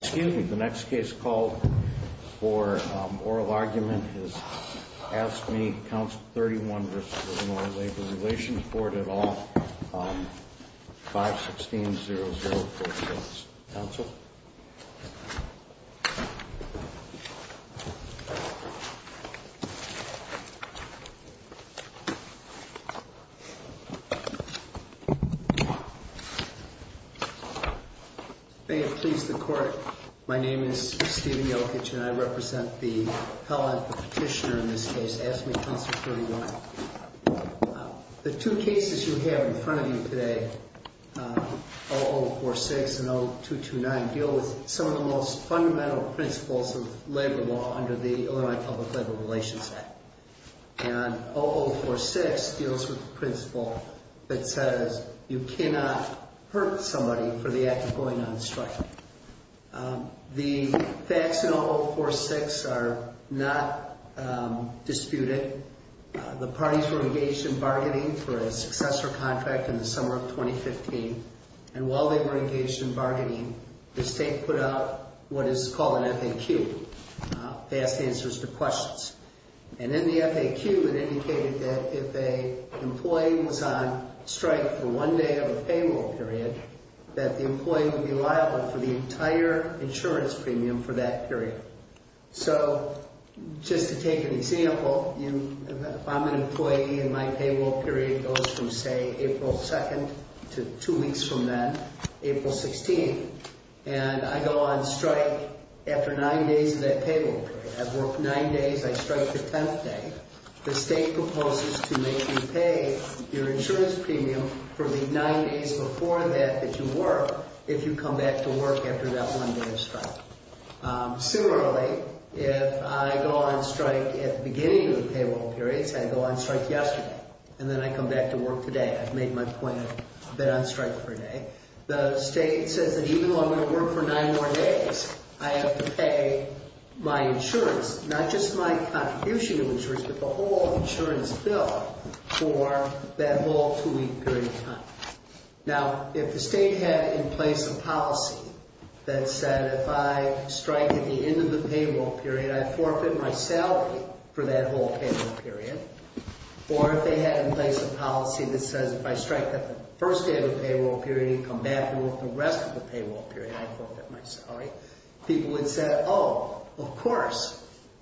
Excuse me, the next case called for oral argument is ASSCME, Council 31 v. Ill. Labor Relations Board at all, 516-0046. Council? May it please the Court, my name is Stephen Jokic and I represent the Petitioner in this case, ASSCME, Council 31. The two cases you have in front of you today, 0046 and 0229, deal with some of the most fundamental principles of labor law under the Illinois Public Labor Relations Act. And 0046 deals with the principle that says you cannot hurt somebody for the act of going on strike. The facts in 0046 are not disputed. The parties were engaged in bargaining for a successor contract in the summer of 2015. And while they were engaged in bargaining, the state put out what is called an FAQ, Fast Answers to Questions. And in the FAQ, it indicated that if an employee was on strike for one day of a paywall period, that the employee would be liable for the entire insurance premium for that period. So, just to take an example, if I'm an employee and my paywall period goes from, say, April 2nd to two weeks from then, April 16th, and I go on strike after nine days of that paywall period. I've worked nine days, I strike the tenth day. The state proposes to make me pay your insurance premium for the nine days before that that you work, if you come back to work after that one day of strike. Similarly, if I go on strike at the beginning of the paywall periods, I go on strike yesterday, and then I come back to work today. I've made my point of being on strike for a day. The state says that even though I'm going to work for nine more days, I have to pay my insurance, not just my contribution of insurance, but the whole insurance bill for that whole two-week period of time. Now, if the state had in place a policy that said, if I strike at the end of the paywall period, I forfeit my salary for that whole paywall period. Or if they had in place a policy that says, if I strike at the first day of the paywall period, you come back and work the rest of the paywall period, I forfeit my salary. People would say, oh, of course,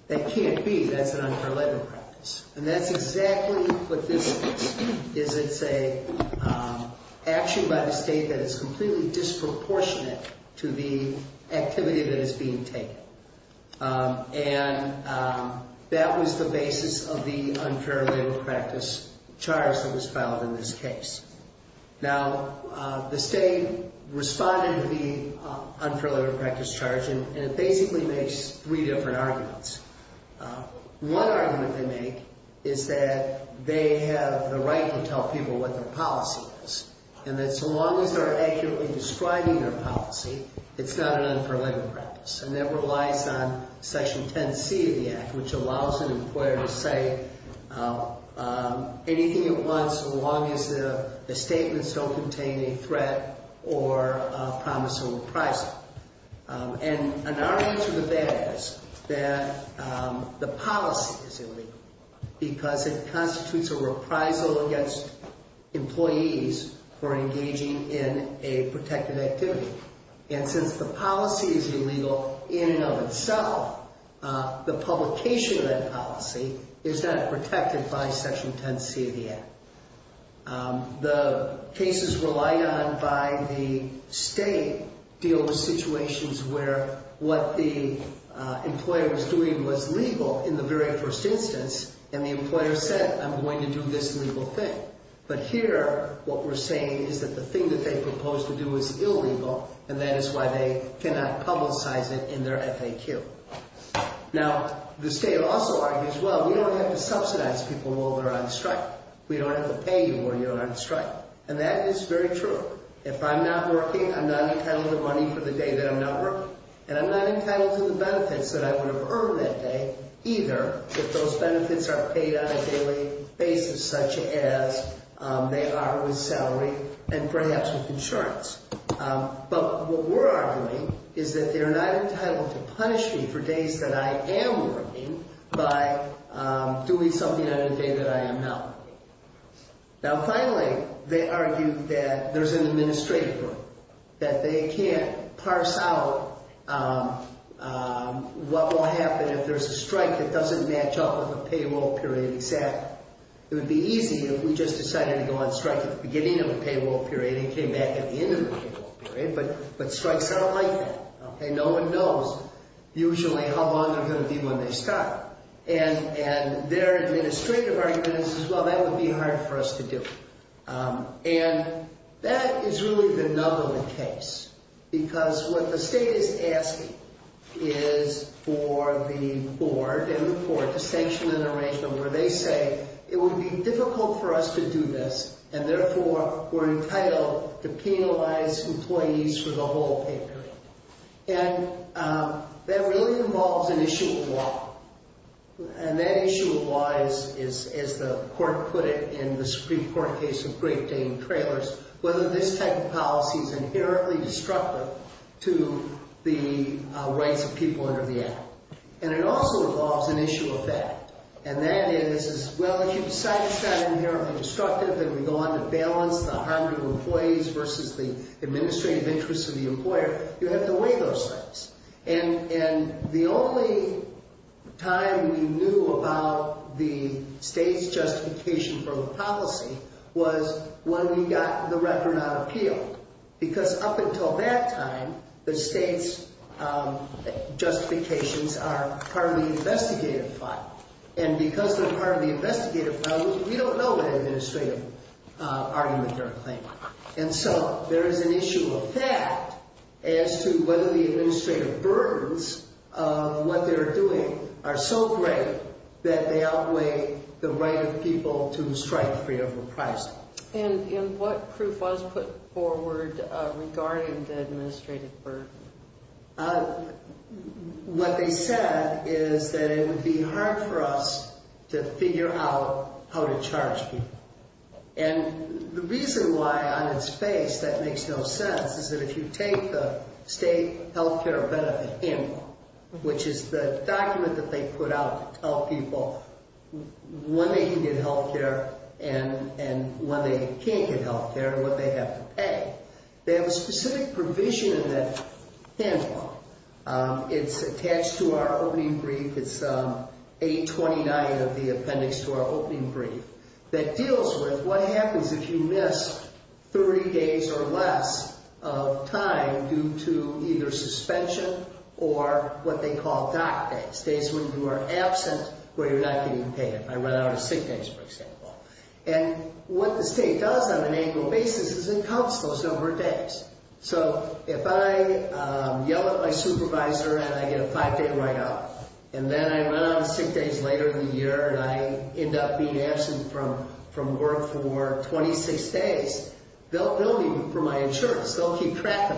that can't be. That's an unfair labor practice. And that's exactly what this is. It's an action by the state that is completely disproportionate to the activity that is being taken. And that was the basis of the unfair labor practice charge that was filed in this case. Now, the state responded to the unfair labor practice charge, and it basically makes three different arguments. One argument they make is that they have the right to tell people what their policy is, and that so long as they're accurately describing their policy, it's not an unfair labor practice. And that relies on Section 10C of the Act, which allows an employer to say anything it wants so long as the statements don't contain a threat or promise of reprisal. And an argument to the bad is that the policy is illegal because it constitutes a reprisal against employees for engaging in a protected activity. And since the policy is illegal in and of itself, the publication of that policy is then protected by Section 10C of the Act. The cases relied on by the state deal with situations where what the employer was doing was legal in the very first instance, and the employer said, I'm going to do this legal thing. But here, what we're saying is that the thing that they proposed to do is illegal, and that is why they cannot publicize it in their FAQ. Now, the state also argues, well, we don't have to subsidize people while they're on strike. We don't have to pay you while you're on strike. And that is very true. If I'm not working, I'm not entitled to money for the day that I'm not working, and I'm not entitled to the benefits that I would have earned that day either if those benefits are paid on a daily basis, such as they are with salary and perhaps with insurance. But what we're arguing is that they're not entitled to punish me for days that I am working by doing something on a day that I am not working. Now, finally, they argue that there's an administrative group, that they can't parse out what will happen if there's a strike that doesn't match up with a payroll period exactly. It would be easy if we just decided to go on strike at the beginning of the payroll period and came back at the end of the payroll period, but strikes aren't like that. No one knows usually how long they're going to be when they start. And their administrative argument is, well, that would be hard for us to do. And that is really the nub of the case, because what the state is asking is for the board and the court to sanction an arrangement where they say it would be difficult for us to do this, and therefore we're entitled to penalize employees for the whole payroll period. And that really involves an issue of law. And that issue of law is, as the court put it in the Supreme Court case of Great Dane Trailers, whether this type of policy is inherently destructive to the rights of people under the Act. And it also involves an issue of fact. And that is, well, if you decide it's not inherently destructive and we go on to balance the harm to employees versus the administrative interests of the employer, you have to weigh those things. And the only time we knew about the state's justification for the policy was when we got the record on appeal. Because up until that time, the state's justifications are part of the investigative file. And because they're part of the investigative file, we don't know what administrative argument they're claiming. And so there is an issue of fact as to whether the administrative burdens of what they're doing are so great that they outweigh the right of people to strike free of reprisal. And what proof was put forward regarding the administrative burden? What they said is that it would be hard for us to figure out how to charge people. And the reason why on its face that makes no sense is that if you take the state health care benefit handbook, which is the document that they put out to tell people when they can get health care and when they can't get health care and what they have to pay, they have a specific provision in that handbook. It's attached to our opening brief. It's 829 of the appendix to our opening brief that deals with what happens if you miss 30 days or less of time due to either suspension or what they call dock days, days when you are absent or you're not getting paid. I run out of sick days, for example. And what the state does on an annual basis is it counts those number of days. So if I yell at my supervisor and I get a five-day write-off and then I run out of sick days later in the year and I end up being absent from work for 26 days, they'll bill me for my insurance. They'll keep track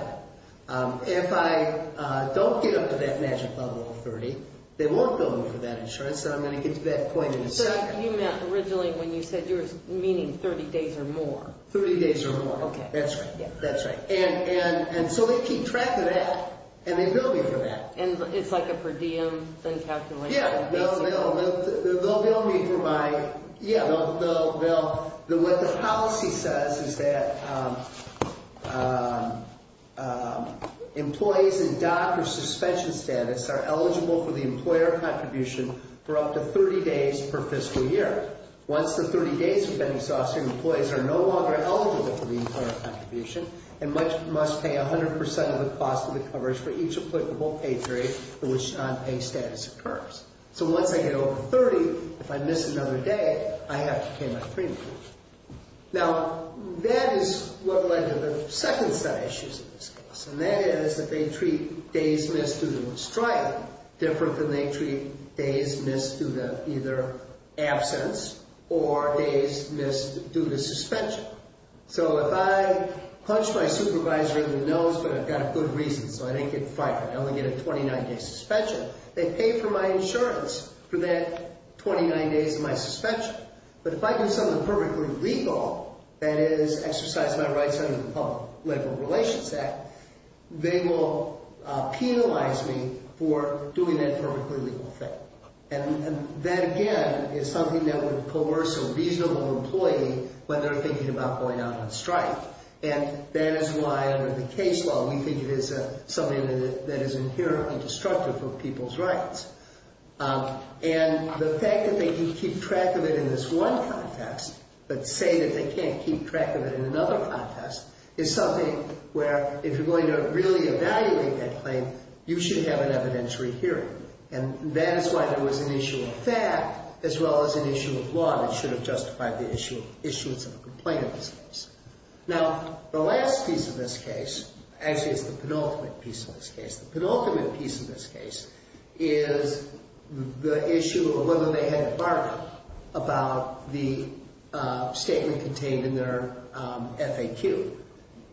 of it. If I don't get up to that magic level of 30, they won't bill me for that insurance. So I'm going to get to that point in a second. So you meant originally when you said you were meaning 30 days or more. 30 days or more. That's right, that's right. And so they keep track of that and they bill me for that. And it's like a per diem thing calculated? Yeah, they'll bill me for my... Yeah. What the policy says is that employees in dock or suspension status are eligible for the employer contribution for up to 30 days per fiscal year. Once the 30 days have been exhausted, employees are no longer eligible for the employer contribution and must pay 100% of the cost of the coverage for each applicable pay grade for which non-pay status occurs. So once I get over 30, if I miss another day, I have to pay my premium. Now, that is what led to the second set of issues in this case. And that is that they treat days missed due to mistrial different than they treat days missed due to either absence or days missed due to suspension. So if I punch my supervisor in the nose, but I've got a good reason so I didn't get fired. I only get a 29-day suspension. They pay for my insurance for that 29 days of my suspension. But if I do something perfectly legal, that is exercise my rights under the Public Legal Relations Act, they will penalize me for doing that perfectly legal thing. And that, again, is something that would coerce a reasonable employee when they're thinking about going out on strike. And that is why, under the case law, we think it is something that is inherently destructive for people's rights. And the fact that they can keep track of it in this one context, but say that they can't keep track of it in another context, is something where, if you're going to really evaluate that claim, you should have an evidentiary hearing. And that is why there was an issue of fact as well as an issue of law that should have justified the issuance of a complaint in this case. Now, the last piece of this case, actually it's the penultimate piece of this case. The penultimate piece of this case is the issue of whether they had a bargain about the statement contained in their FAQ.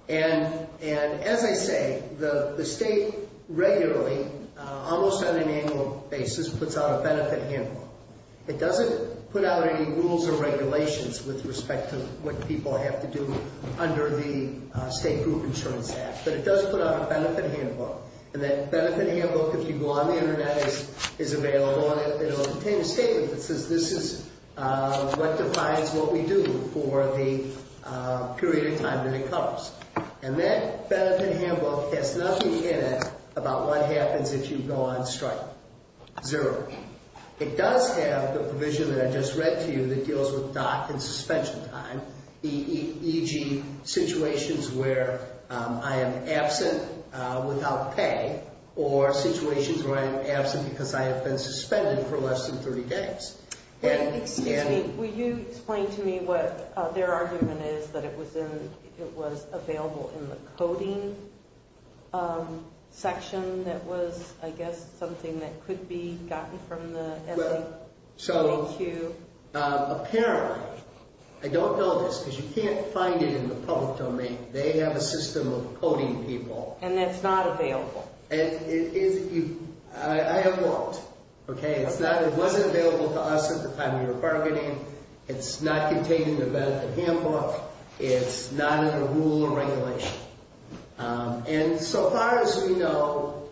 And, as I say, the state regularly, almost on an annual basis, puts out a benefit handbook. It doesn't put out any rules or regulations with respect to what people have to do under the State Group Insurance Act. But it does put out a benefit handbook. And that benefit handbook, if you go on the Internet, is available. And it'll contain a statement that says this is what defines what we do for the period of time that it covers. And that benefit handbook has nothing in it about what happens if you go on strike. Zero. It does have the provision that I just read to you that deals with dock and suspension time, e.g. situations where I am absent without pay or situations where I am absent because I have been suspended for less than 30 days. Excuse me. Will you explain to me what their argument is that it was available in the coding section that was, I guess, something that could be gotten from the FAQ? Apparently, I don't know this because you can't find it in the public domain. They have a system of coding people. And that's not available. I have looked. It wasn't available to us at the time of your bargaining. It's not contained in the benefit handbook. It's not in the rule or regulation. And so far as we know,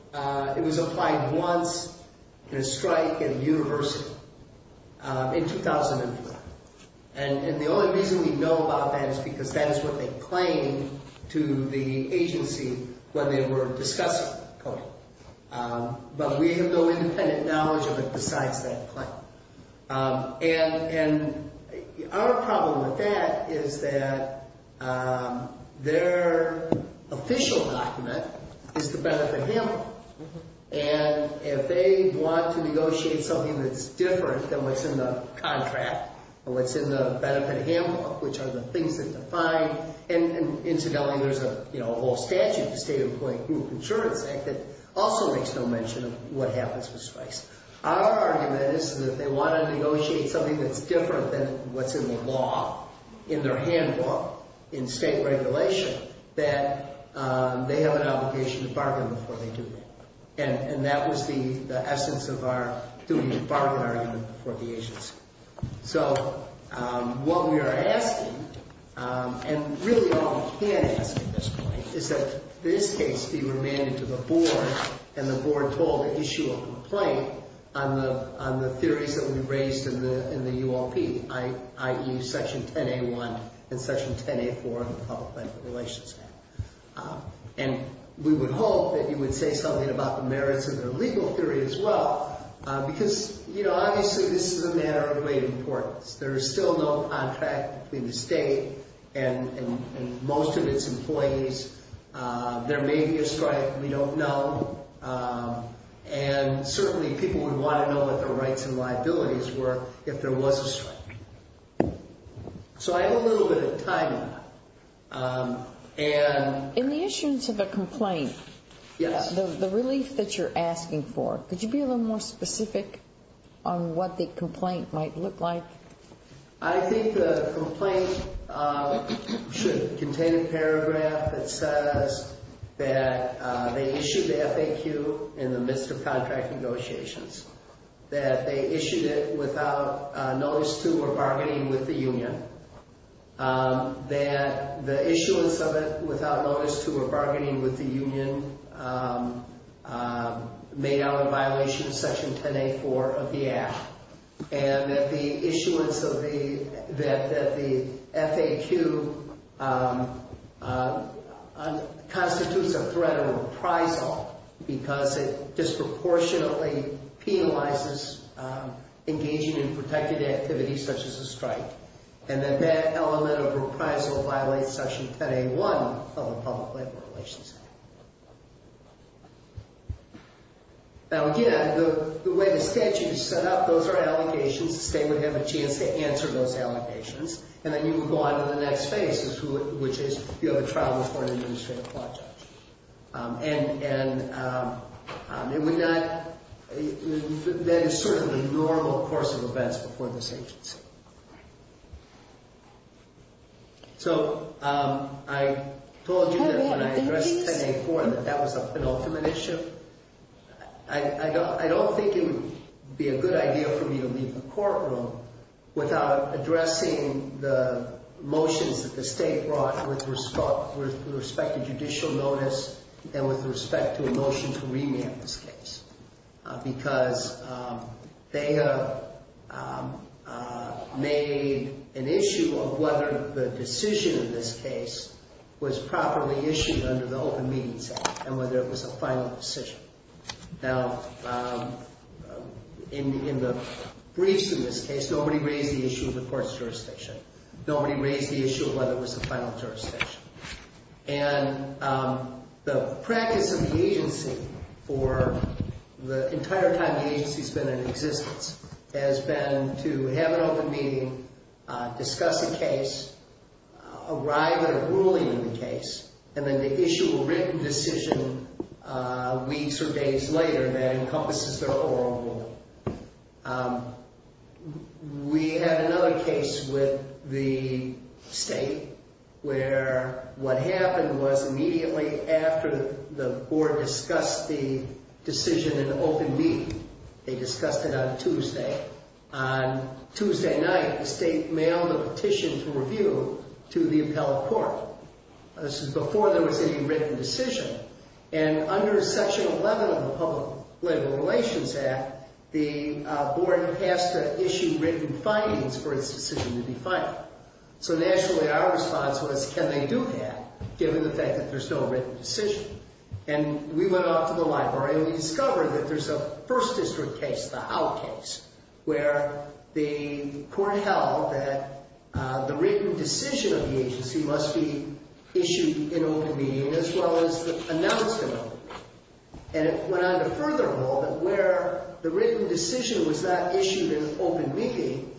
it was applied once in a strike at a university. In 2004. And the only reason we know about that is because that is what they claimed to the agency when they were discussing coding. But we have no independent knowledge of it besides that claim. And our problem with that is that their official document is the benefit handbook. And if they want to negotiate something that's different than what's in the contract or what's in the benefit handbook, which are the things that define. And incidentally, there's a whole statute, the State Employment Group Insurance Act, that also makes no mention of what happens with strikes. Our argument is that they want to negotiate something that's different than what's in the law, in their handbook, in state regulation, that they have an obligation to bargain before they do that. And that was the essence of our duty to bargain argument for the agency. So what we are asking, and really all we can ask at this point, is that this case be remanded to the board. And the board told to issue a complaint on the theories that we raised in the ULP, i.e. Section 10A1 and Section 10A4 of the Public Benefit Relations Act. And we would hope that you would say something about the merits of the legal theory as well. Because, you know, obviously this is a matter of great importance. There is still no contract between the state and most of its employees. There may be a strike. We don't know. And certainly people would want to know what their rights and liabilities were if there was a strike. So I have a little bit of time on that. In the issuance of the complaint, the relief that you're asking for, could you be a little more specific on what the complaint might look like? I think the complaint should contain a paragraph that says that they issued the FAQ in the midst of contract negotiations. That they issued it without notice to or bargaining with the union. That the issuance of it without notice to or bargaining with the union made out in violation of Section 10A4 of the Act. And that the issuance of the, that the FAQ constitutes a threat of reprisal because it disproportionately penalizes engaging in protected activities such as a strike. And that that element of reprisal violates Section 10A1 of the Public Labor Relations Act. Now again, the way the statute is set up, those are allegations. The state would have a chance to answer those allegations. And then you would go on to the next phase, which is you have a trial before an administrative court judge. And it would not, that is certainly normal course of events before this agency. So I told you that when I addressed 10A4 that that was a penultimate issue. I don't think it would be a good idea for me to leave the courtroom without addressing the motions that the state brought with respect to judicial notice. And with respect to a motion to revamp this case. Because they have made an issue of whether the decision in this case was properly issued under the Open Meetings Act and whether it was a final decision. Now in the briefs in this case, nobody raised the issue of the court's jurisdiction. Nobody raised the issue of whether it was a final jurisdiction. And the practice of the agency for the entire time the agency has been in existence has been to have an open meeting, discuss a case, arrive at a ruling in the case. And then to issue a written decision weeks or days later that encompasses their oral ruling. We had another case with the state where what happened was immediately after the board discussed the decision in the open meeting. They discussed it on Tuesday. On Tuesday night, the state mailed a petition to review to the appellate court. This is before there was any written decision. And under section 11 of the Public Labor Relations Act, the board has to issue written findings for its decision to be filed. So naturally our response was, can they do that given the fact that there's no written decision? And we went off to the library and we discovered that there's a first district case, the Howe case. Where the court held that the written decision of the agency must be issued in open meeting as well as announced in open meeting. And it went on to furthermore that where the written decision was not issued in open meeting,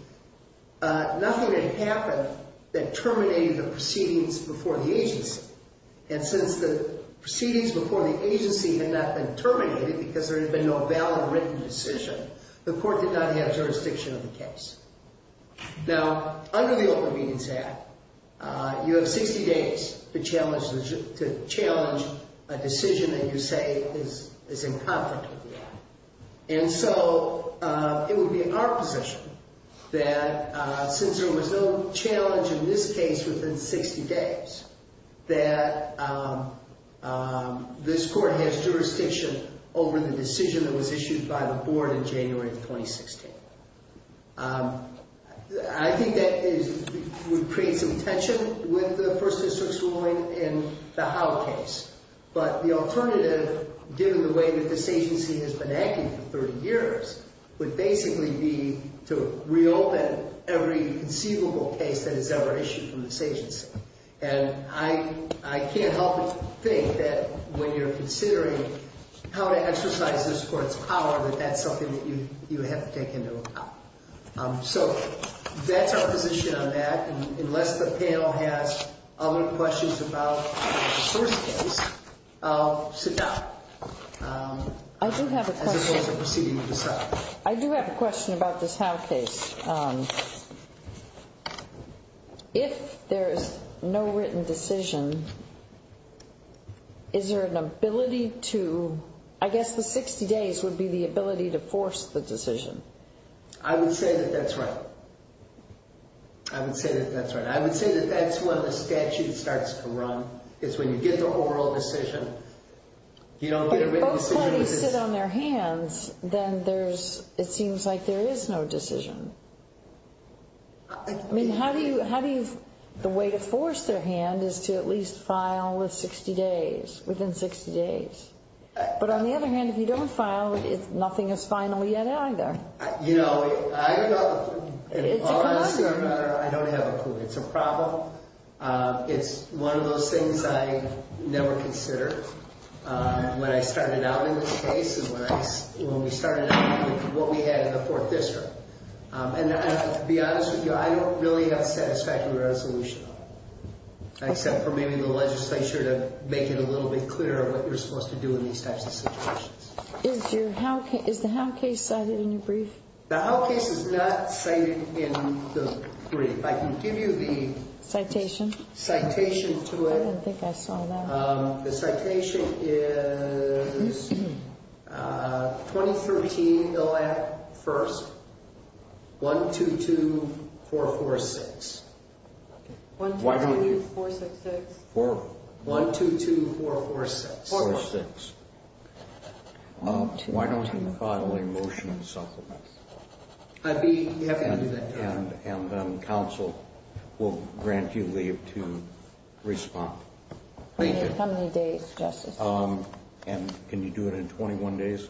nothing had happened that terminated the proceedings before the agency. And since the proceedings before the agency had not been terminated because there had been no valid written decision, the court did not have jurisdiction of the case. Now, under the Open Meetings Act, you have 60 days to challenge a decision that you say is in conflict with the act. And so it would be our position that since there was no challenge in this case within 60 days, that this court has jurisdiction over the decision that was issued by the board in January of 2016. I think that would create some tension with the first district's ruling in the Howe case. But the alternative, given the way that this agency has been acting for 30 years, would basically be to reopen every conceivable case that is ever issued from this agency. And I can't help but think that when you're considering how to exercise this court's power, that that's something that you have to take into account. So that's our position on that. And unless the panel has other questions about the first case, I'll sit down. I do have a question about this Howe case. If there is no written decision, is there an ability to, I guess the 60 days would be the ability to force the decision. I would say that that's right. I would say that that's right. I would say that that's when the statute starts to run. It's when you get the oral decision. If both parties sit on their hands, then there's, it seems like there is no decision. I mean, how do you, how do you, the way to force their hand is to at least file within 60 days. But on the other hand, if you don't file, nothing is final yet either. You know, I don't, in all honesty or matter, I don't have a clue. It's a problem. It's one of those things I never considered when I started out in this case and when we started out with what we had in the fourth district. And to be honest with you, I don't really have satisfactory resolution on it. Except for maybe the legislature to make it a little bit clearer what you're supposed to do in these types of situations. Is the Howe case cited in your brief? The Howe case is not cited in the brief. I can give you the citation to it. I didn't think I saw that. The citation is 2013, the last, first, 122446. 122446. 122446. Why don't you file a motion and supplement? I'd be happy to do that. And then council will grant you leave to respond. Thank you. How many days, Justice? And can you do it in 21 days?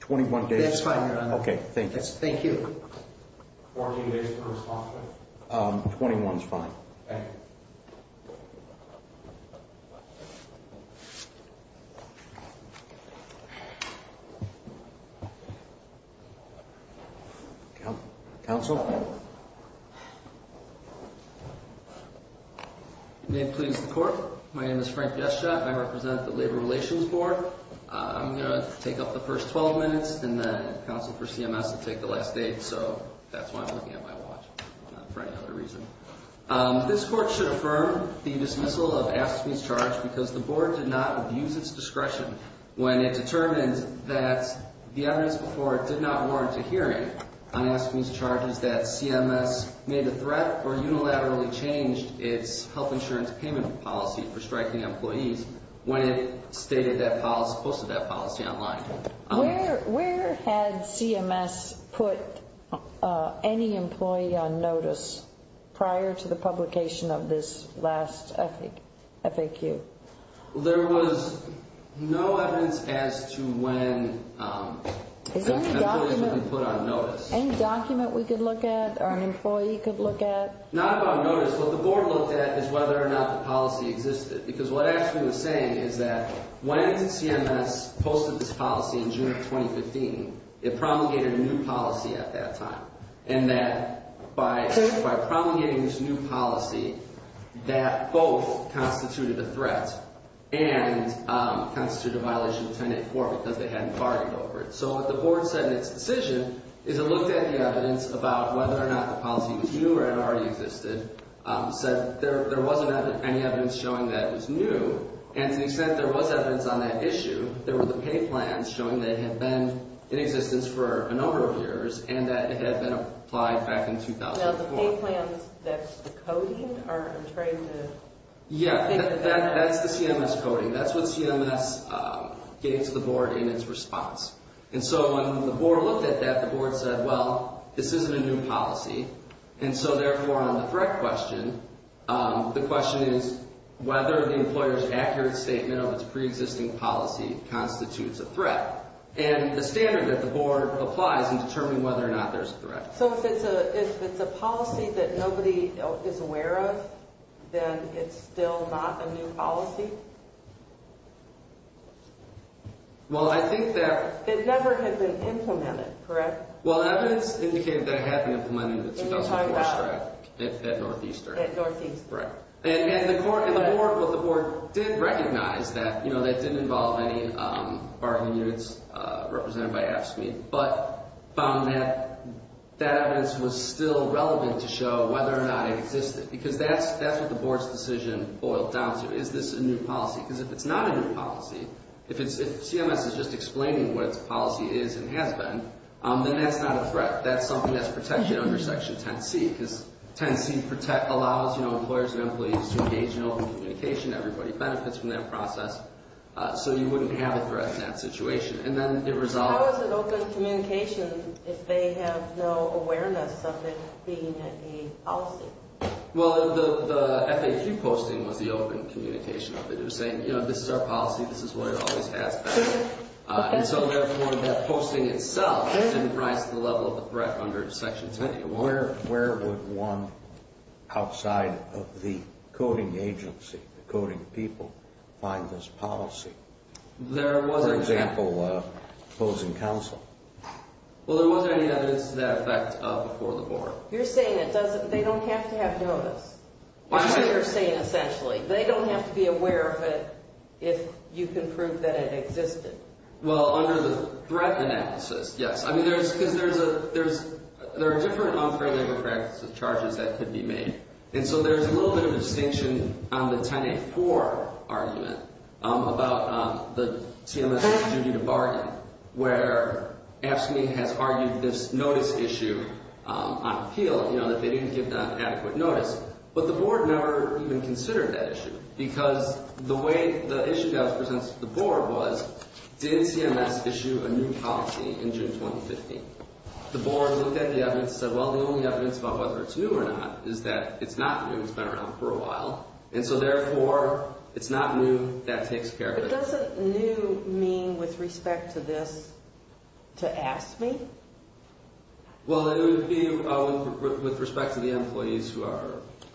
21 days. That's fine, Your Honor. Okay, thank you. Thank you. 14 days to respond to it? 21 is fine. Thank you. Thank you. Counsel? May it please the Court. My name is Frank Jescha. I represent the Labor Relations Board. I'm going to take up the first 12 minutes and then counsel for CMS will take the last eight. So that's why I'm looking at my watch, not for any other reason. This Court should affirm the dismissal of Aspen's charge because the Board did not abuse its discretion when it determined that the evidence before it did not warrant a hearing on Aspen's charges, that CMS made a threat or unilaterally changed its health insurance payment policy for striking employees when it stated that policy, posted that policy online. Where had CMS put any employee on notice prior to the publication of this last FAQ? There was no evidence as to when employees were put on notice. Any document we could look at or an employee could look at? Not about notice. What the Board looked at is whether or not the policy existed. Because what Aspen was saying is that when CMS posted this policy in June of 2015, it promulgated a new policy at that time. And that by promulgating this new policy, that both constituted a threat and constituted a violation of Tenet 4 because they hadn't bargained over it. So what the Board said in its decision is it looked at the evidence about whether or not the policy was new or if it already existed, said there wasn't any evidence showing that it was new. And to the extent there was evidence on that issue, there were the pay plans showing that it had been in existence for a number of years and that it had been applied back in 2004. Now, the pay plans, that's the coding? Yeah, that's the CMS coding. That's what CMS gave to the Board in its response. And so when the Board looked at that, the Board said, well, this isn't a new policy. And so, therefore, on the threat question, the question is whether the employer's accurate statement of its preexisting policy constitutes a threat. And the standard that the Board applies in determining whether or not there's a threat. So if it's a policy that nobody is aware of, then it's still not a new policy? Well, I think that... It never had been implemented, correct? Well, evidence indicated that it had been implemented in the 2004 strike at Northeastern. At Northeast. Right. And the Board did recognize that that didn't involve any bargaining units represented by AFSCME, but found that that evidence was still relevant to show whether or not it existed because that's what the Board's decision boiled down to, is this a new policy? Because if it's not a new policy, if CMS is just explaining what its policy is and has been, then that's not a threat, that's something that's protected under Section 10C because 10C allows employers and employees to engage in open communication, everybody benefits from that process, so you wouldn't have a threat in that situation. And then it resolved... How is it open communication if they have no awareness of it being a policy? Well, the FAQ posting was the open communication of it. It was saying, you know, this is our policy, this is what it always has been. And so, therefore, that posting itself didn't rise to the level of the threat under Section 10C. Where would one outside of the coding agency, the coding people, find this policy? For example, opposing counsel. Well, there wasn't any evidence to that effect before the Board. You're saying they don't have to have notice, which is what you're saying essentially. They don't have to be aware of it if you can prove that it existed. Well, under the threat analysis, yes. I mean, because there are different unfair labor practices charges that could be made. And so there's a little bit of distinction on the 10A4 argument about the CMS's duty to bargain, where AFSCME has argued this notice issue on appeal, you know, that they didn't give an adequate notice. But the Board never even considered that issue because the way the issue that was presented to the Board was, did CMS issue a new policy in June 2015? The Board looked at the evidence and said, well, the only evidence about whether it's new or not is that it's not new. It's been around for a while. And so, therefore, it's not new. That takes care of it. But doesn't new mean, with respect to this, to AFSCME? Well, it would be with respect to the employees who are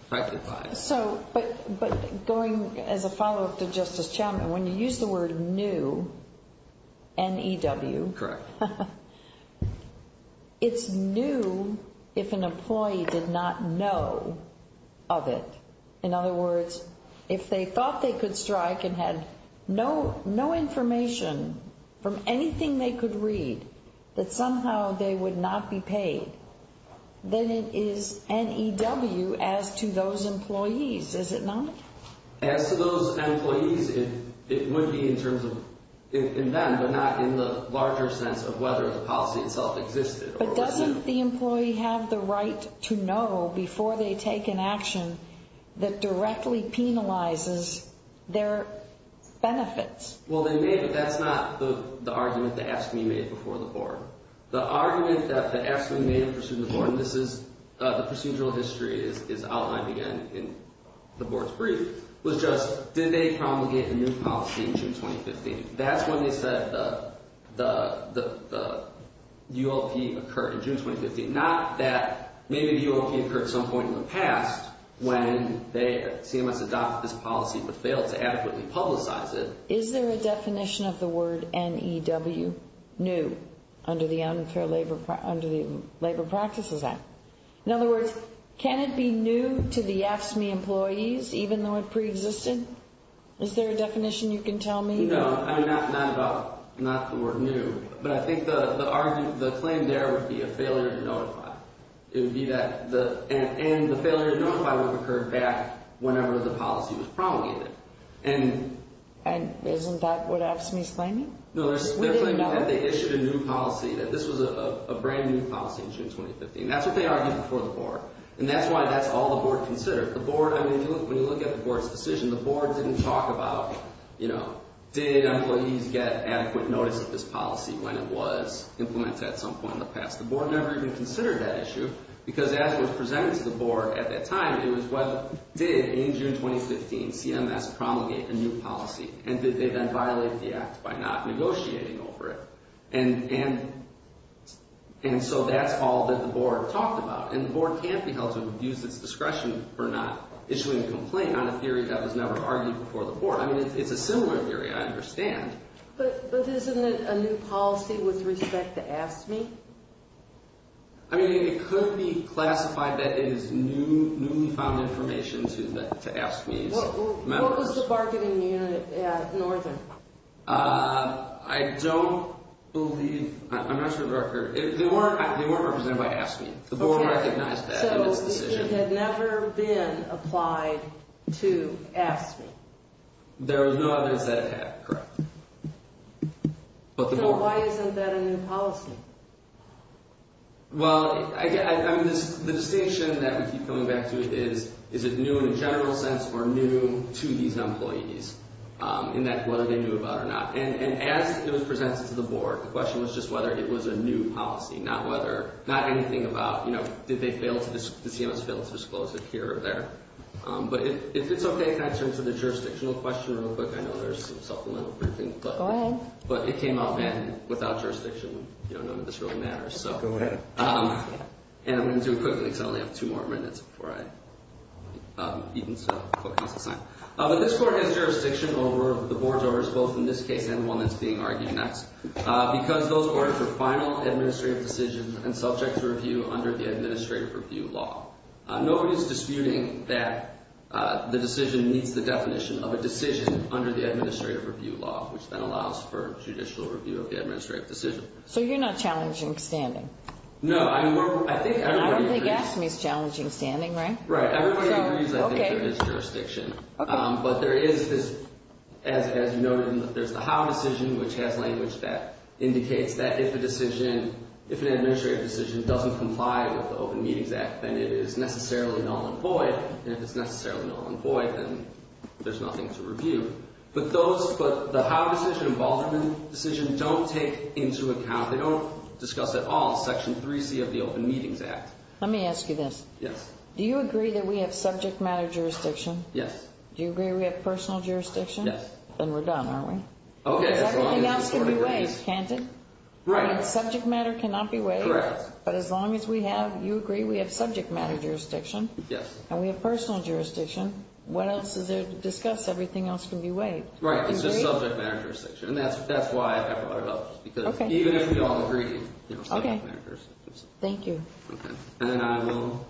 affected by it. So, but going as a follow-up to Justice Chalmers, when you use the word new, N-E-W. Correct. It's new if an employee did not know of it. In other words, if they thought they could strike and had no information from anything they could read, that somehow they would not be paid, then it is N-E-W as to those employees, is it not? As to those employees, it would be in terms of them, but not in the larger sense of whether the policy itself existed. But doesn't the employee have the right to know before they take an action that directly penalizes their benefits? Well, they may, but that's not the argument that AFSCME made before the Board. The argument that AFSCME made in pursuit of the Board, and this is, the procedural history is outlined again in the Board's brief, was just, did they promulgate a new policy in June 2015? That's when they said the ULP occurred in June 2015. Not that maybe the ULP occurred at some point in the past when CMS adopted this policy but failed to adequately publicize it. Is there a definition of the word N-E-W, new, under the Labor Practices Act? In other words, can it be new to the AFSCME employees even though it preexisted? Is there a definition you can tell me? No, not the word new, but I think the claim there would be a failure to notify. It would be that, and the failure to notify would have occurred back whenever the policy was promulgated. And isn't that what AFSCME's claiming? No, they're claiming that they issued a new policy, that this was a brand new policy in June 2015. That's what they argued before the Board, and that's why that's all the Board considered. The Board, I mean, when you look at the Board's decision, the Board didn't talk about, you know, did employees get adequate notice of this policy when it was implemented at some point in the past? The Board never even considered that issue because as was presented to the Board at that time, it was what did, in June 2015, CMS promulgate a new policy? And did they then violate the act by not negotiating over it? And so that's all that the Board talked about. And the Board can't be held to abuse its discretion for not issuing a complaint on a theory that was never argued before the Board. I mean, it's a similar theory, I understand. But isn't it a new policy with respect to AFSCME? I mean, it could be classified that it is newly found information to AFSCME's members. What was the bargaining unit at Northern? I don't believe, I'm not sure of the record. They weren't represented by AFSCME. The Board recognized that in its decision. So it had never been applied to AFSCME? There were no others that it had, correct. So why isn't that a new policy? Well, I mean, the distinction that we keep coming back to is, is it new in a general sense or new to these employees? In that, whether they knew about it or not. And as it was presented to the Board, the question was just whether it was a new policy. Not whether, not anything about, you know, did they fail to, did CMS fail to disclose it here or there? But if it's okay, can I turn to the jurisdictional question real quick? I know there's some supplemental briefing. Go ahead. But it came up, and without jurisdiction, you know, none of this really matters. Go ahead. And I'm going to do it quickly because I only have two more minutes before I, even so. But this Court has jurisdiction over the Board's orders, both in this case and the one that's being argued next. Because those orders are final administrative decisions and subject to review under the Administrative Review Law. Nobody is disputing that the decision meets the definition of a decision under the Administrative Review Law, which then allows for judicial review of the administrative decision. So you're not challenging standing? No, I think everybody agrees. And I don't think AFSCME is challenging standing, right? Right. Everybody agrees, I think, there is jurisdiction. But there is this, as you noted, there's the Howe decision, which has language that indicates that if a decision, if an administrative decision doesn't comply with the Open Meetings Act, then it is necessarily null and void. And if it's necessarily null and void, then there's nothing to review. But those, the Howe decision and Baldwin decision don't take into account, they don't discuss at all Section 3C of the Open Meetings Act. Let me ask you this. Yes. Do you agree that we have subject matter jurisdiction? Yes. Do you agree we have personal jurisdiction? Yes. Then we're done, aren't we? Okay. Because everything else can be waived, can't it? Right. Subject matter cannot be waived. Correct. But as long as we have, you agree we have subject matter jurisdiction? Yes. And we have personal jurisdiction, what else is there to discuss? Everything else can be waived. Right. It's just subject matter jurisdiction. And that's why I brought it up. Okay. Because even if we don't agree, you know, subject matter jurisdiction. Okay. Thank you. Okay. And then I will,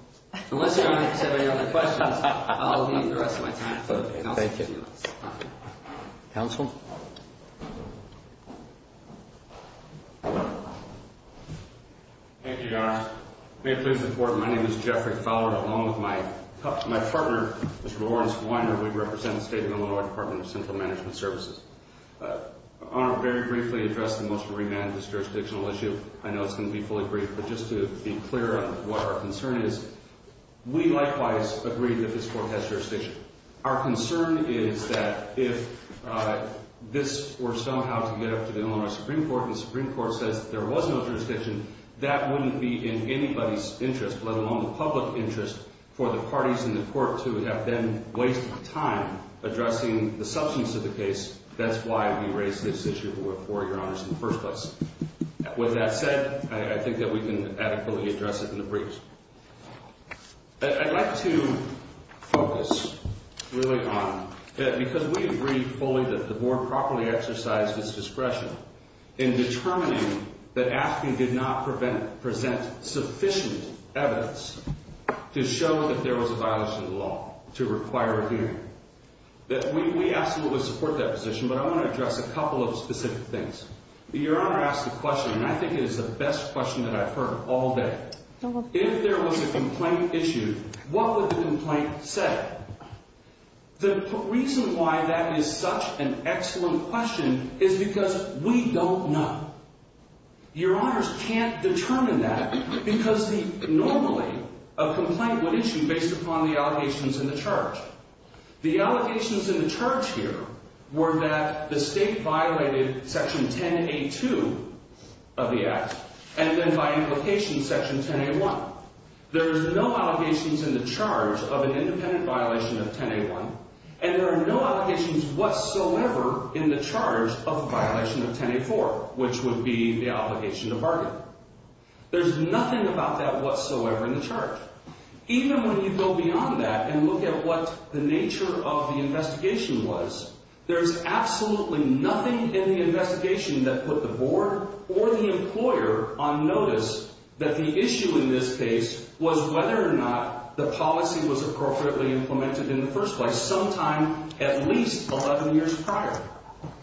unless you have any other questions, I'll leave the rest of my time to the Council. Thank you. All right. Council? Thank you, Your Honor. May it please the Court, my name is Jeffrey Fowler. Along with my partner, Mr. Lawrence Weiner, we represent the State of Illinois Department of Central Management Services. Your Honor, very briefly addressing the motion to remand this jurisdictional issue, I know it's going to be fully brief, but just to be clear on what our concern is, we likewise agree that this Court has jurisdiction. Our concern is that if this were somehow to get up to the Illinois Supreme Court, and the Supreme Court says there was no jurisdiction, that wouldn't be in anybody's interest, let alone the public interest, for the parties in the Court to have then wasted time addressing the substance of the case. That's why we raised this issue before, Your Honor, in the first place. With that said, I think that we can adequately address it in the briefs. I'd like to focus really on, because we agree fully that the Board properly exercised its discretion in determining that AFB did not present sufficient evidence to show that there was a violation of the law to require a hearing. We absolutely support that position, but I want to address a couple of specific things. Your Honor asked a question, and I think it is the best question that I've heard all day. If there was a complaint issued, what would the complaint say? The reason why that is such an excellent question is because we don't know. Your Honors can't determine that, because normally a complaint would issue based upon the allegations in the charge. The allegations in the charge here were that the State violated Section 10A2 of the Act, and then by implication Section 10A1. There's no allegations in the charge of an independent violation of 10A1, and there are no allegations whatsoever in the charge of a violation of 10A4, which would be the obligation to bargain. There's nothing about that whatsoever in the charge. Even when you go beyond that and look at what the nature of the investigation was, there's absolutely nothing in the investigation that put the Board or the employer on notice that the issue in this case was whether or not the policy was appropriately implemented in the first place sometime at least 11 years prior.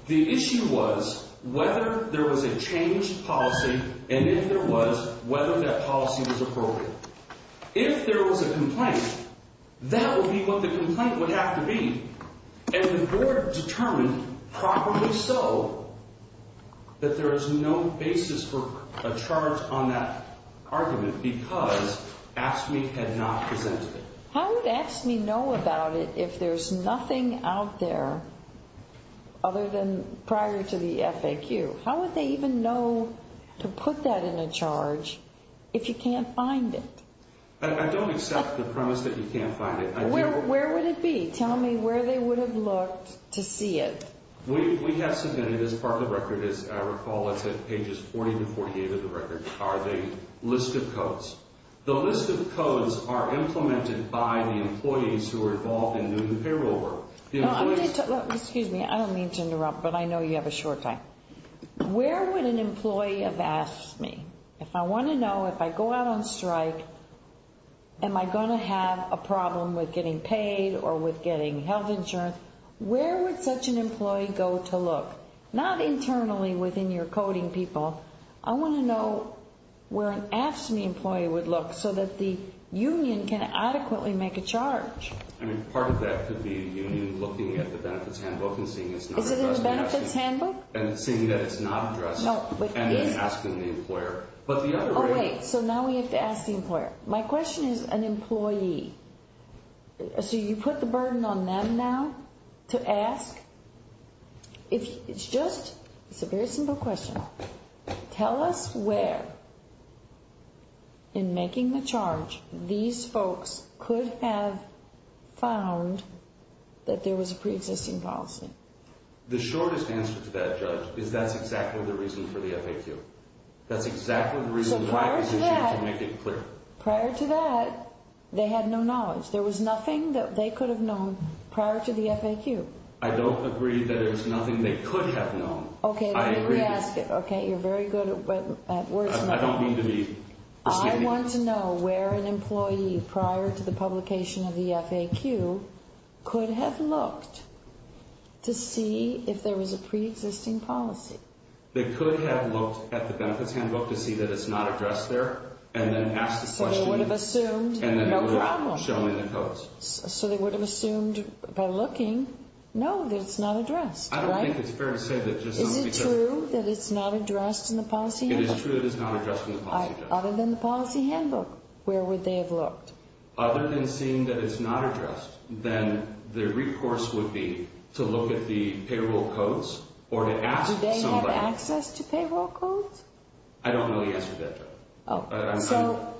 The issue was whether there was a changed policy, and if there was, whether that policy was appropriate. If there was a complaint, that would be what the complaint would have to be, and the Board determined properly so that there is no basis for a charge on that argument because AFSCME had not presented it. How would AFSCME know about it if there's nothing out there other than prior to the FAQ? How would they even know to put that in a charge if you can't find it? I don't accept the premise that you can't find it. Where would it be? Tell me where they would have looked to see it. We have submitted as part of the record, as I recall, it's at pages 40 to 48 of the record, a list of codes. The list of codes are implemented by the employees who are involved in new payroll work. Excuse me, I don't mean to interrupt, but I know you have a short time. Where would an employee of AFSCME, if I want to know, if I go out on strike, am I going to have a problem with getting paid or with getting health insurance? Where would such an employee go to look? Not internally within your coding people. I want to know where an AFSCME employee would look so that the union can adequately make a charge. I mean, part of that could be the union looking at the benefits handbook and seeing it's not addressed. Is it in the benefits handbook? And seeing that it's not addressed and then asking the employer. Oh wait, so now we have to ask the employer. My question is an employee. So you put the burden on them now to ask? It's just, it's a very simple question. Tell us where, in making the charge, these folks could have found that there was a pre-existing policy. The shortest answer to that, Judge, is that's exactly the reason for the FAQ. That's exactly the reason why I want you to make it clear. Prior to that, they had no knowledge. There was nothing that they could have known prior to the FAQ. I don't agree that there's nothing they could have known. Okay, let me ask you. Okay, you're very good at words. I don't mean to be. I want to know where an employee, prior to the publication of the FAQ, could have looked to see if there was a pre-existing policy. They could have looked at the benefits handbook to see that it's not addressed there and then asked the question. So they would have assumed. No problem. Showing the codes. So they would have assumed by looking, no, that it's not addressed. Is it true that it's not addressed in the policy handbook? It is true that it's not addressed in the policy handbook. Other than the policy handbook, where would they have looked? Other than seeing that it's not addressed, then the recourse would be to look at the payroll codes or to ask somebody. Do they have access to payroll codes? I don't know the answer to that, Judge. So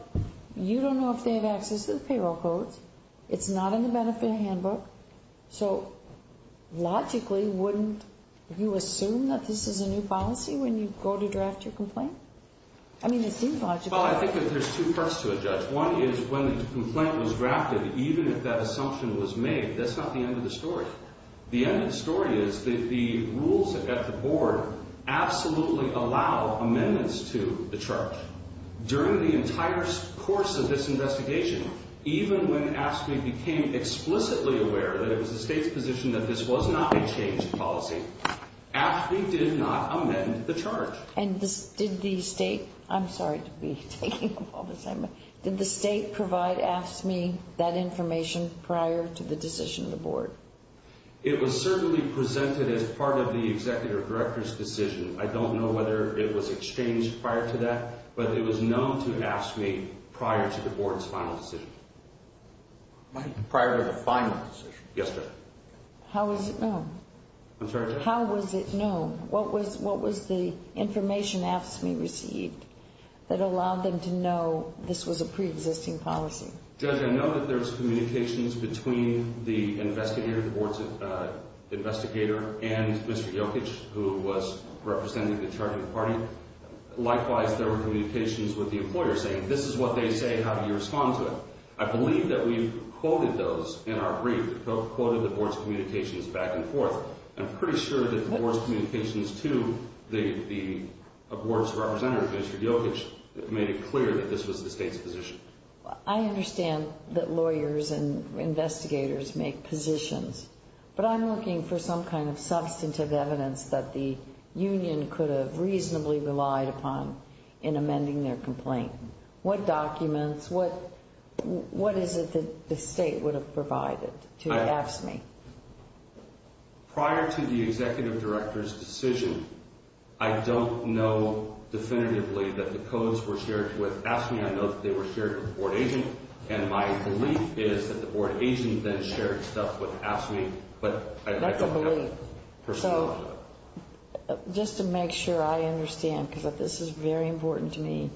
you don't know if they have access to the payroll codes. It's not in the benefit handbook. So, logically, wouldn't you assume that this is a new policy when you go to draft your complaint? I mean, it seems logical. Well, I think that there's two parts to it, Judge. One is when the complaint was drafted, even if that assumption was made, that's not the end of the story. The end of the story is that the rules at the Board absolutely allow amendments to the charge. During the entire course of this investigation, even when AFSCME became explicitly aware that it was the State's position that this was not a changed policy, AFSCME did not amend the charge. And did the State – I'm sorry to be taking up all the same – did the State provide AFSCME that information prior to the decision of the Board? It was certainly presented as part of the Executive Director's decision. I don't know whether it was exchanged prior to that, but it was known to AFSCME prior to the Board's final decision. Prior to the final decision? Yes, Judge. How was it known? I'm sorry, Judge? How was it known? What was the information AFSCME received that allowed them to know this was a preexisting policy? Judge, I know that there's communications between the investigator, the Board's investigator, and Mr. Jokic, who was representing the charge of the party. Likewise, there were communications with the employer saying, this is what they say, how do you respond to it? I believe that we quoted those in our brief, quoted the Board's communications back and forth. I'm pretty sure that the Board's communications to the Board's representative, Mr. Jokic, made it clear that this was the State's position. I understand that lawyers and investigators make positions, but I'm looking for some kind of substantive evidence that the union could have reasonably relied upon in amending their complaint. What documents, what is it that the State would have provided to AFSCME? Prior to the Executive Director's decision, I don't know definitively that the codes were shared with AFSCME. I know that they were shared with the Board agent, and my belief is that the Board agent then shared stuff with AFSCME. That's a belief. Just to make sure I understand, because this is very important to me.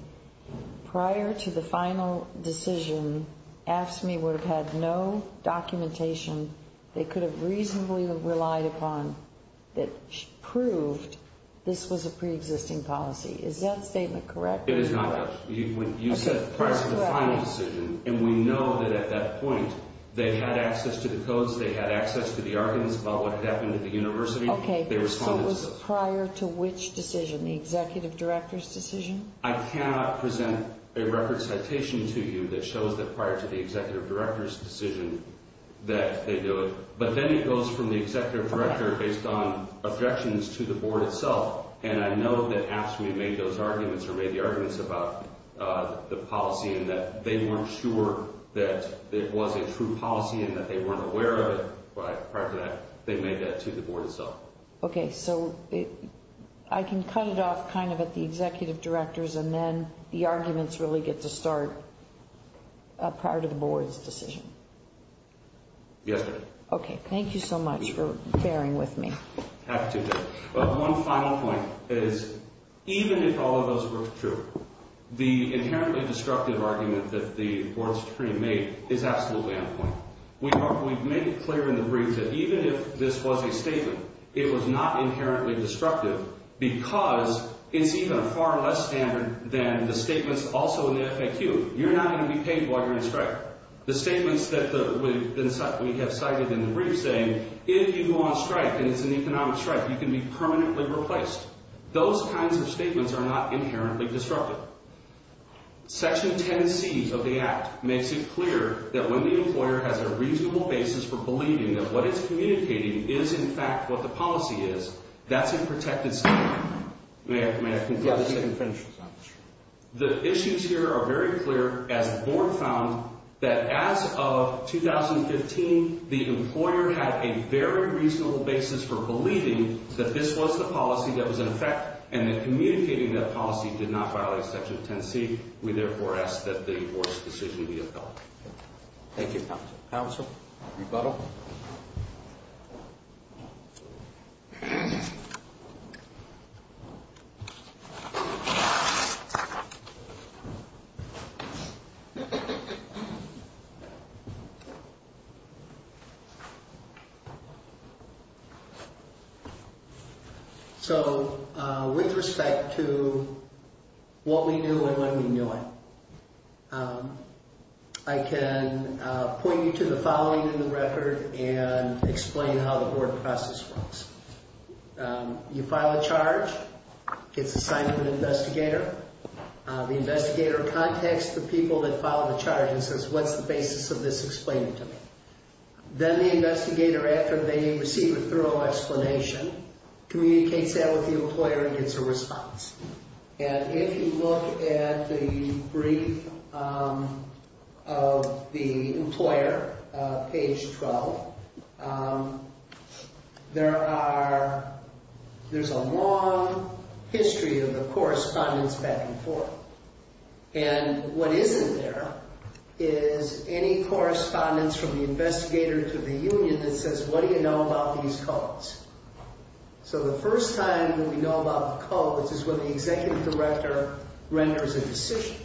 Prior to the final decision, AFSCME would have had no documentation they could have reasonably relied upon that proved this was a pre-existing policy. Is that statement correct? It is not correct. You said prior to the final decision, and we know that at that point, they had access to the codes, they had access to the arguments about what had happened at the University. Okay, so it was prior to which decision, the Executive Director's decision? I cannot present a record citation to you that shows that prior to the Executive Director's decision that they knew it. But then it goes from the Executive Director based on objections to the Board itself. And I know that AFSCME made those arguments or made the arguments about the policy and that they weren't sure that it was a true policy and that they weren't aware of it. But prior to that, they made that to the Board itself. Okay, so I can cut it off kind of at the Executive Directors, and then the arguments really get to start prior to the Board's decision. Yes, ma'am. Okay, thank you so much for bearing with me. Happy to do it. But one final point is even if all of those were true, the inherently destructive argument that the Board of Supreme made is absolutely on point. We made it clear in the brief that even if this was a statement, it was not inherently destructive because it's even a far less standard than the statements also in the FAQ. You're not going to be paid while you're in a strike. The statements that we have cited in the brief saying if you go on strike and it's an economic strike, you can be permanently replaced. Those kinds of statements are not inherently disruptive. Section 10C of the Act makes it clear that when the employer has a reasonable basis for believing that what it's communicating is in fact what the policy is, that's a protected statement. May I conclude? Yes, you can finish. The issues here are very clear as the Board found that as of 2015, the employer had a very reasonable basis for believing that this was the policy that was in effect and that communicating that policy did not violate Section 10C. We therefore ask that the Board's decision be appealed. Thank you, Counsel. Rebuttal. So with respect to what we knew and when we knew it, I can point you to the following in the record and explain how the Board process works. You file a charge. It's assigned to an investigator. The investigator contacts the people that filed the charge and says, what's the basis of this explained to me? Then the investigator, after they receive a thorough explanation, communicates that with the employer and gets a response. And if you look at the brief of the employer, page 12, there's a long history of the correspondence back and forth. And what isn't there is any correspondence from the investigator to the union that says, what do you know about these codes? So the first time that we know about the codes is when the Executive Director renders a decision.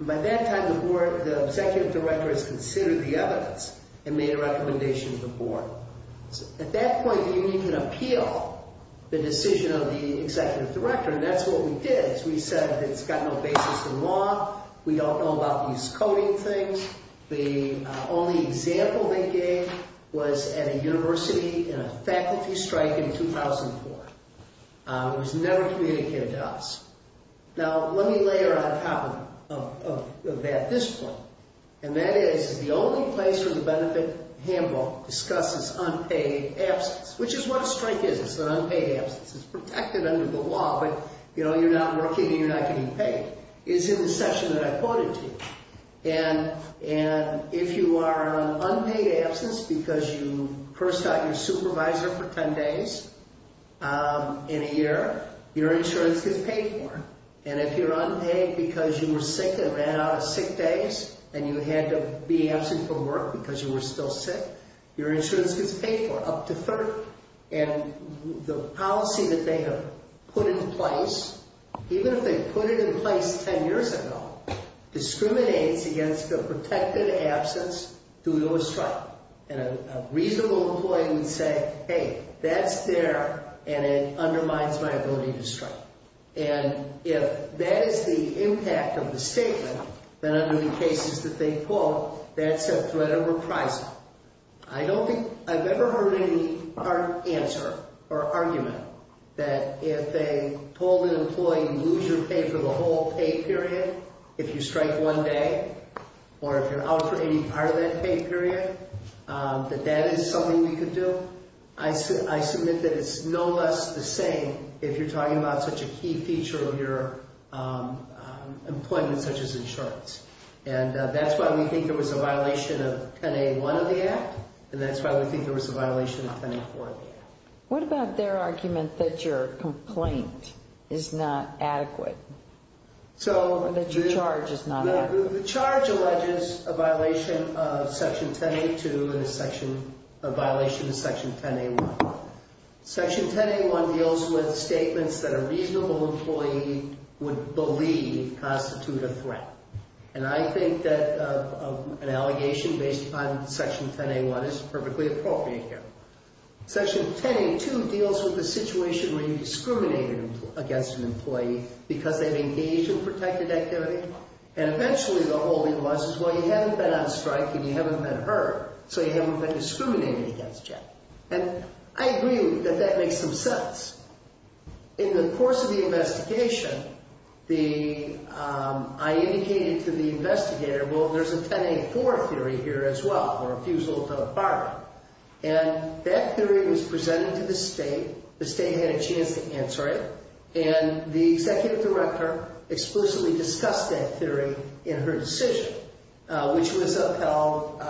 By that time, the Executive Director has considered the evidence and made a recommendation to the Board. At that point, the union can appeal the decision of the Executive Director, and that's what we did. We said it's got no basis in law. We don't know about these coding things. The only example they gave was at a university in a faculty strike in 2004. It was never communicated to us. Now, let me layer on top of that this point, and that is the only place where the benefit handbook discusses unpaid absence, which is what a strike is. It's an unpaid absence. It's protected under the law, but you're not working and you're not getting paid, is in the section that I quoted to you. And if you are on unpaid absence because you first got your supervisor for 10 days in a year, your insurance gets paid for. And if you're unpaid because you were sick and ran out of sick days and you had to be absent from work because you were still sick, your insurance gets paid for up to third. And the policy that they have put in place, even if they put it in place 10 years ago, discriminates against the protected absence due to a strike. And a reasonable employee would say, hey, that's there, and it undermines my ability to strike. And if that is the impact of the statement, then under the cases that they quote, that's a threat of reprisal. I don't think I've ever heard any hard answer or argument that if they told an employee, lose your pay for the whole pay period, if you strike one day or if you're out for any part of that pay period, that that is something we could do. I said I submit that it's no less the same if you're talking about such a key feature of your employment, such as insurance. And that's why we think there was a violation of 10A1 of the Act. And that's why we think there was a violation of 10A4 of the Act. What about their argument that your complaint is not adequate? Or that your charge is not adequate? The charge alleges a violation of Section 10A2 and a violation of Section 10A1. Section 10A1 deals with statements that a reasonable employee would believe constitute a threat. And I think that an allegation based on Section 10A1 is perfectly appropriate here. Section 10A2 deals with the situation where you discriminated against an employee because they've engaged in protected activity. And eventually the whole thing was, well, you haven't been on strike and you haven't been hurt, so you haven't been discriminated against yet. And I agree that that makes some sense. In the course of the investigation, I indicated to the investigator, well, there's a 10A4 theory here as well, or refusal to bargain. And that theory was presented to the State. The State had a chance to answer it. And the Executive Director explicitly discussed that theory in her decision, which was upheld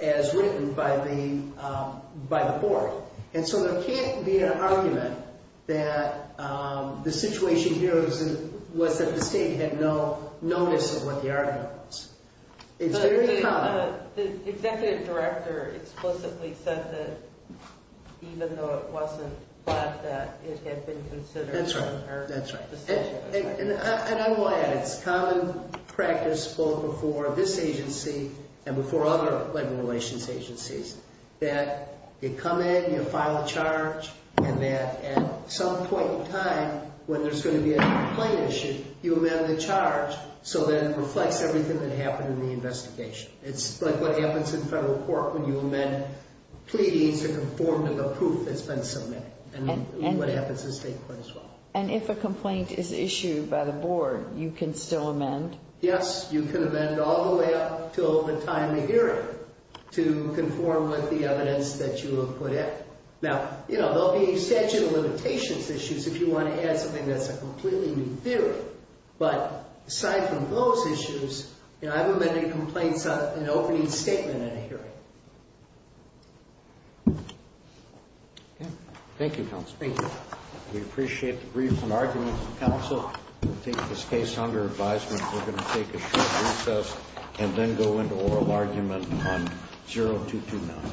as written by the Court. And so there can't be an argument that the situation here was that the State had no notice of what the argument was. It's very common. But the Executive Director explicitly said that even though it wasn't that, that it had been considered in her decision. That's right. That's right. And I will add, it's common practice, both before this agency and before other labor relations agencies, that you come in, you file a charge, and that at some point in time, when there's going to be a complaint issue, you amend the charge so that it reflects everything that happened in the investigation. It's like what happens in federal court when you amend pleadings that conform to the proof that's been submitted. And what happens in State court as well. And if a complaint is issued by the Board, you can still amend? Yes, you can amend all the way up until the time of hearing to conform with the evidence that you have put in. Now, you know, there will be statute of limitations issues if you want to add something that's a completely new theory. But aside from those issues, you know, I've amended complaints on an opening statement in a hearing. Thank you, Counsel. Thank you. We appreciate the briefs and arguments, Counsel. I think in this case, under advisement, we're going to take a short recess and then go into oral argument on 0229.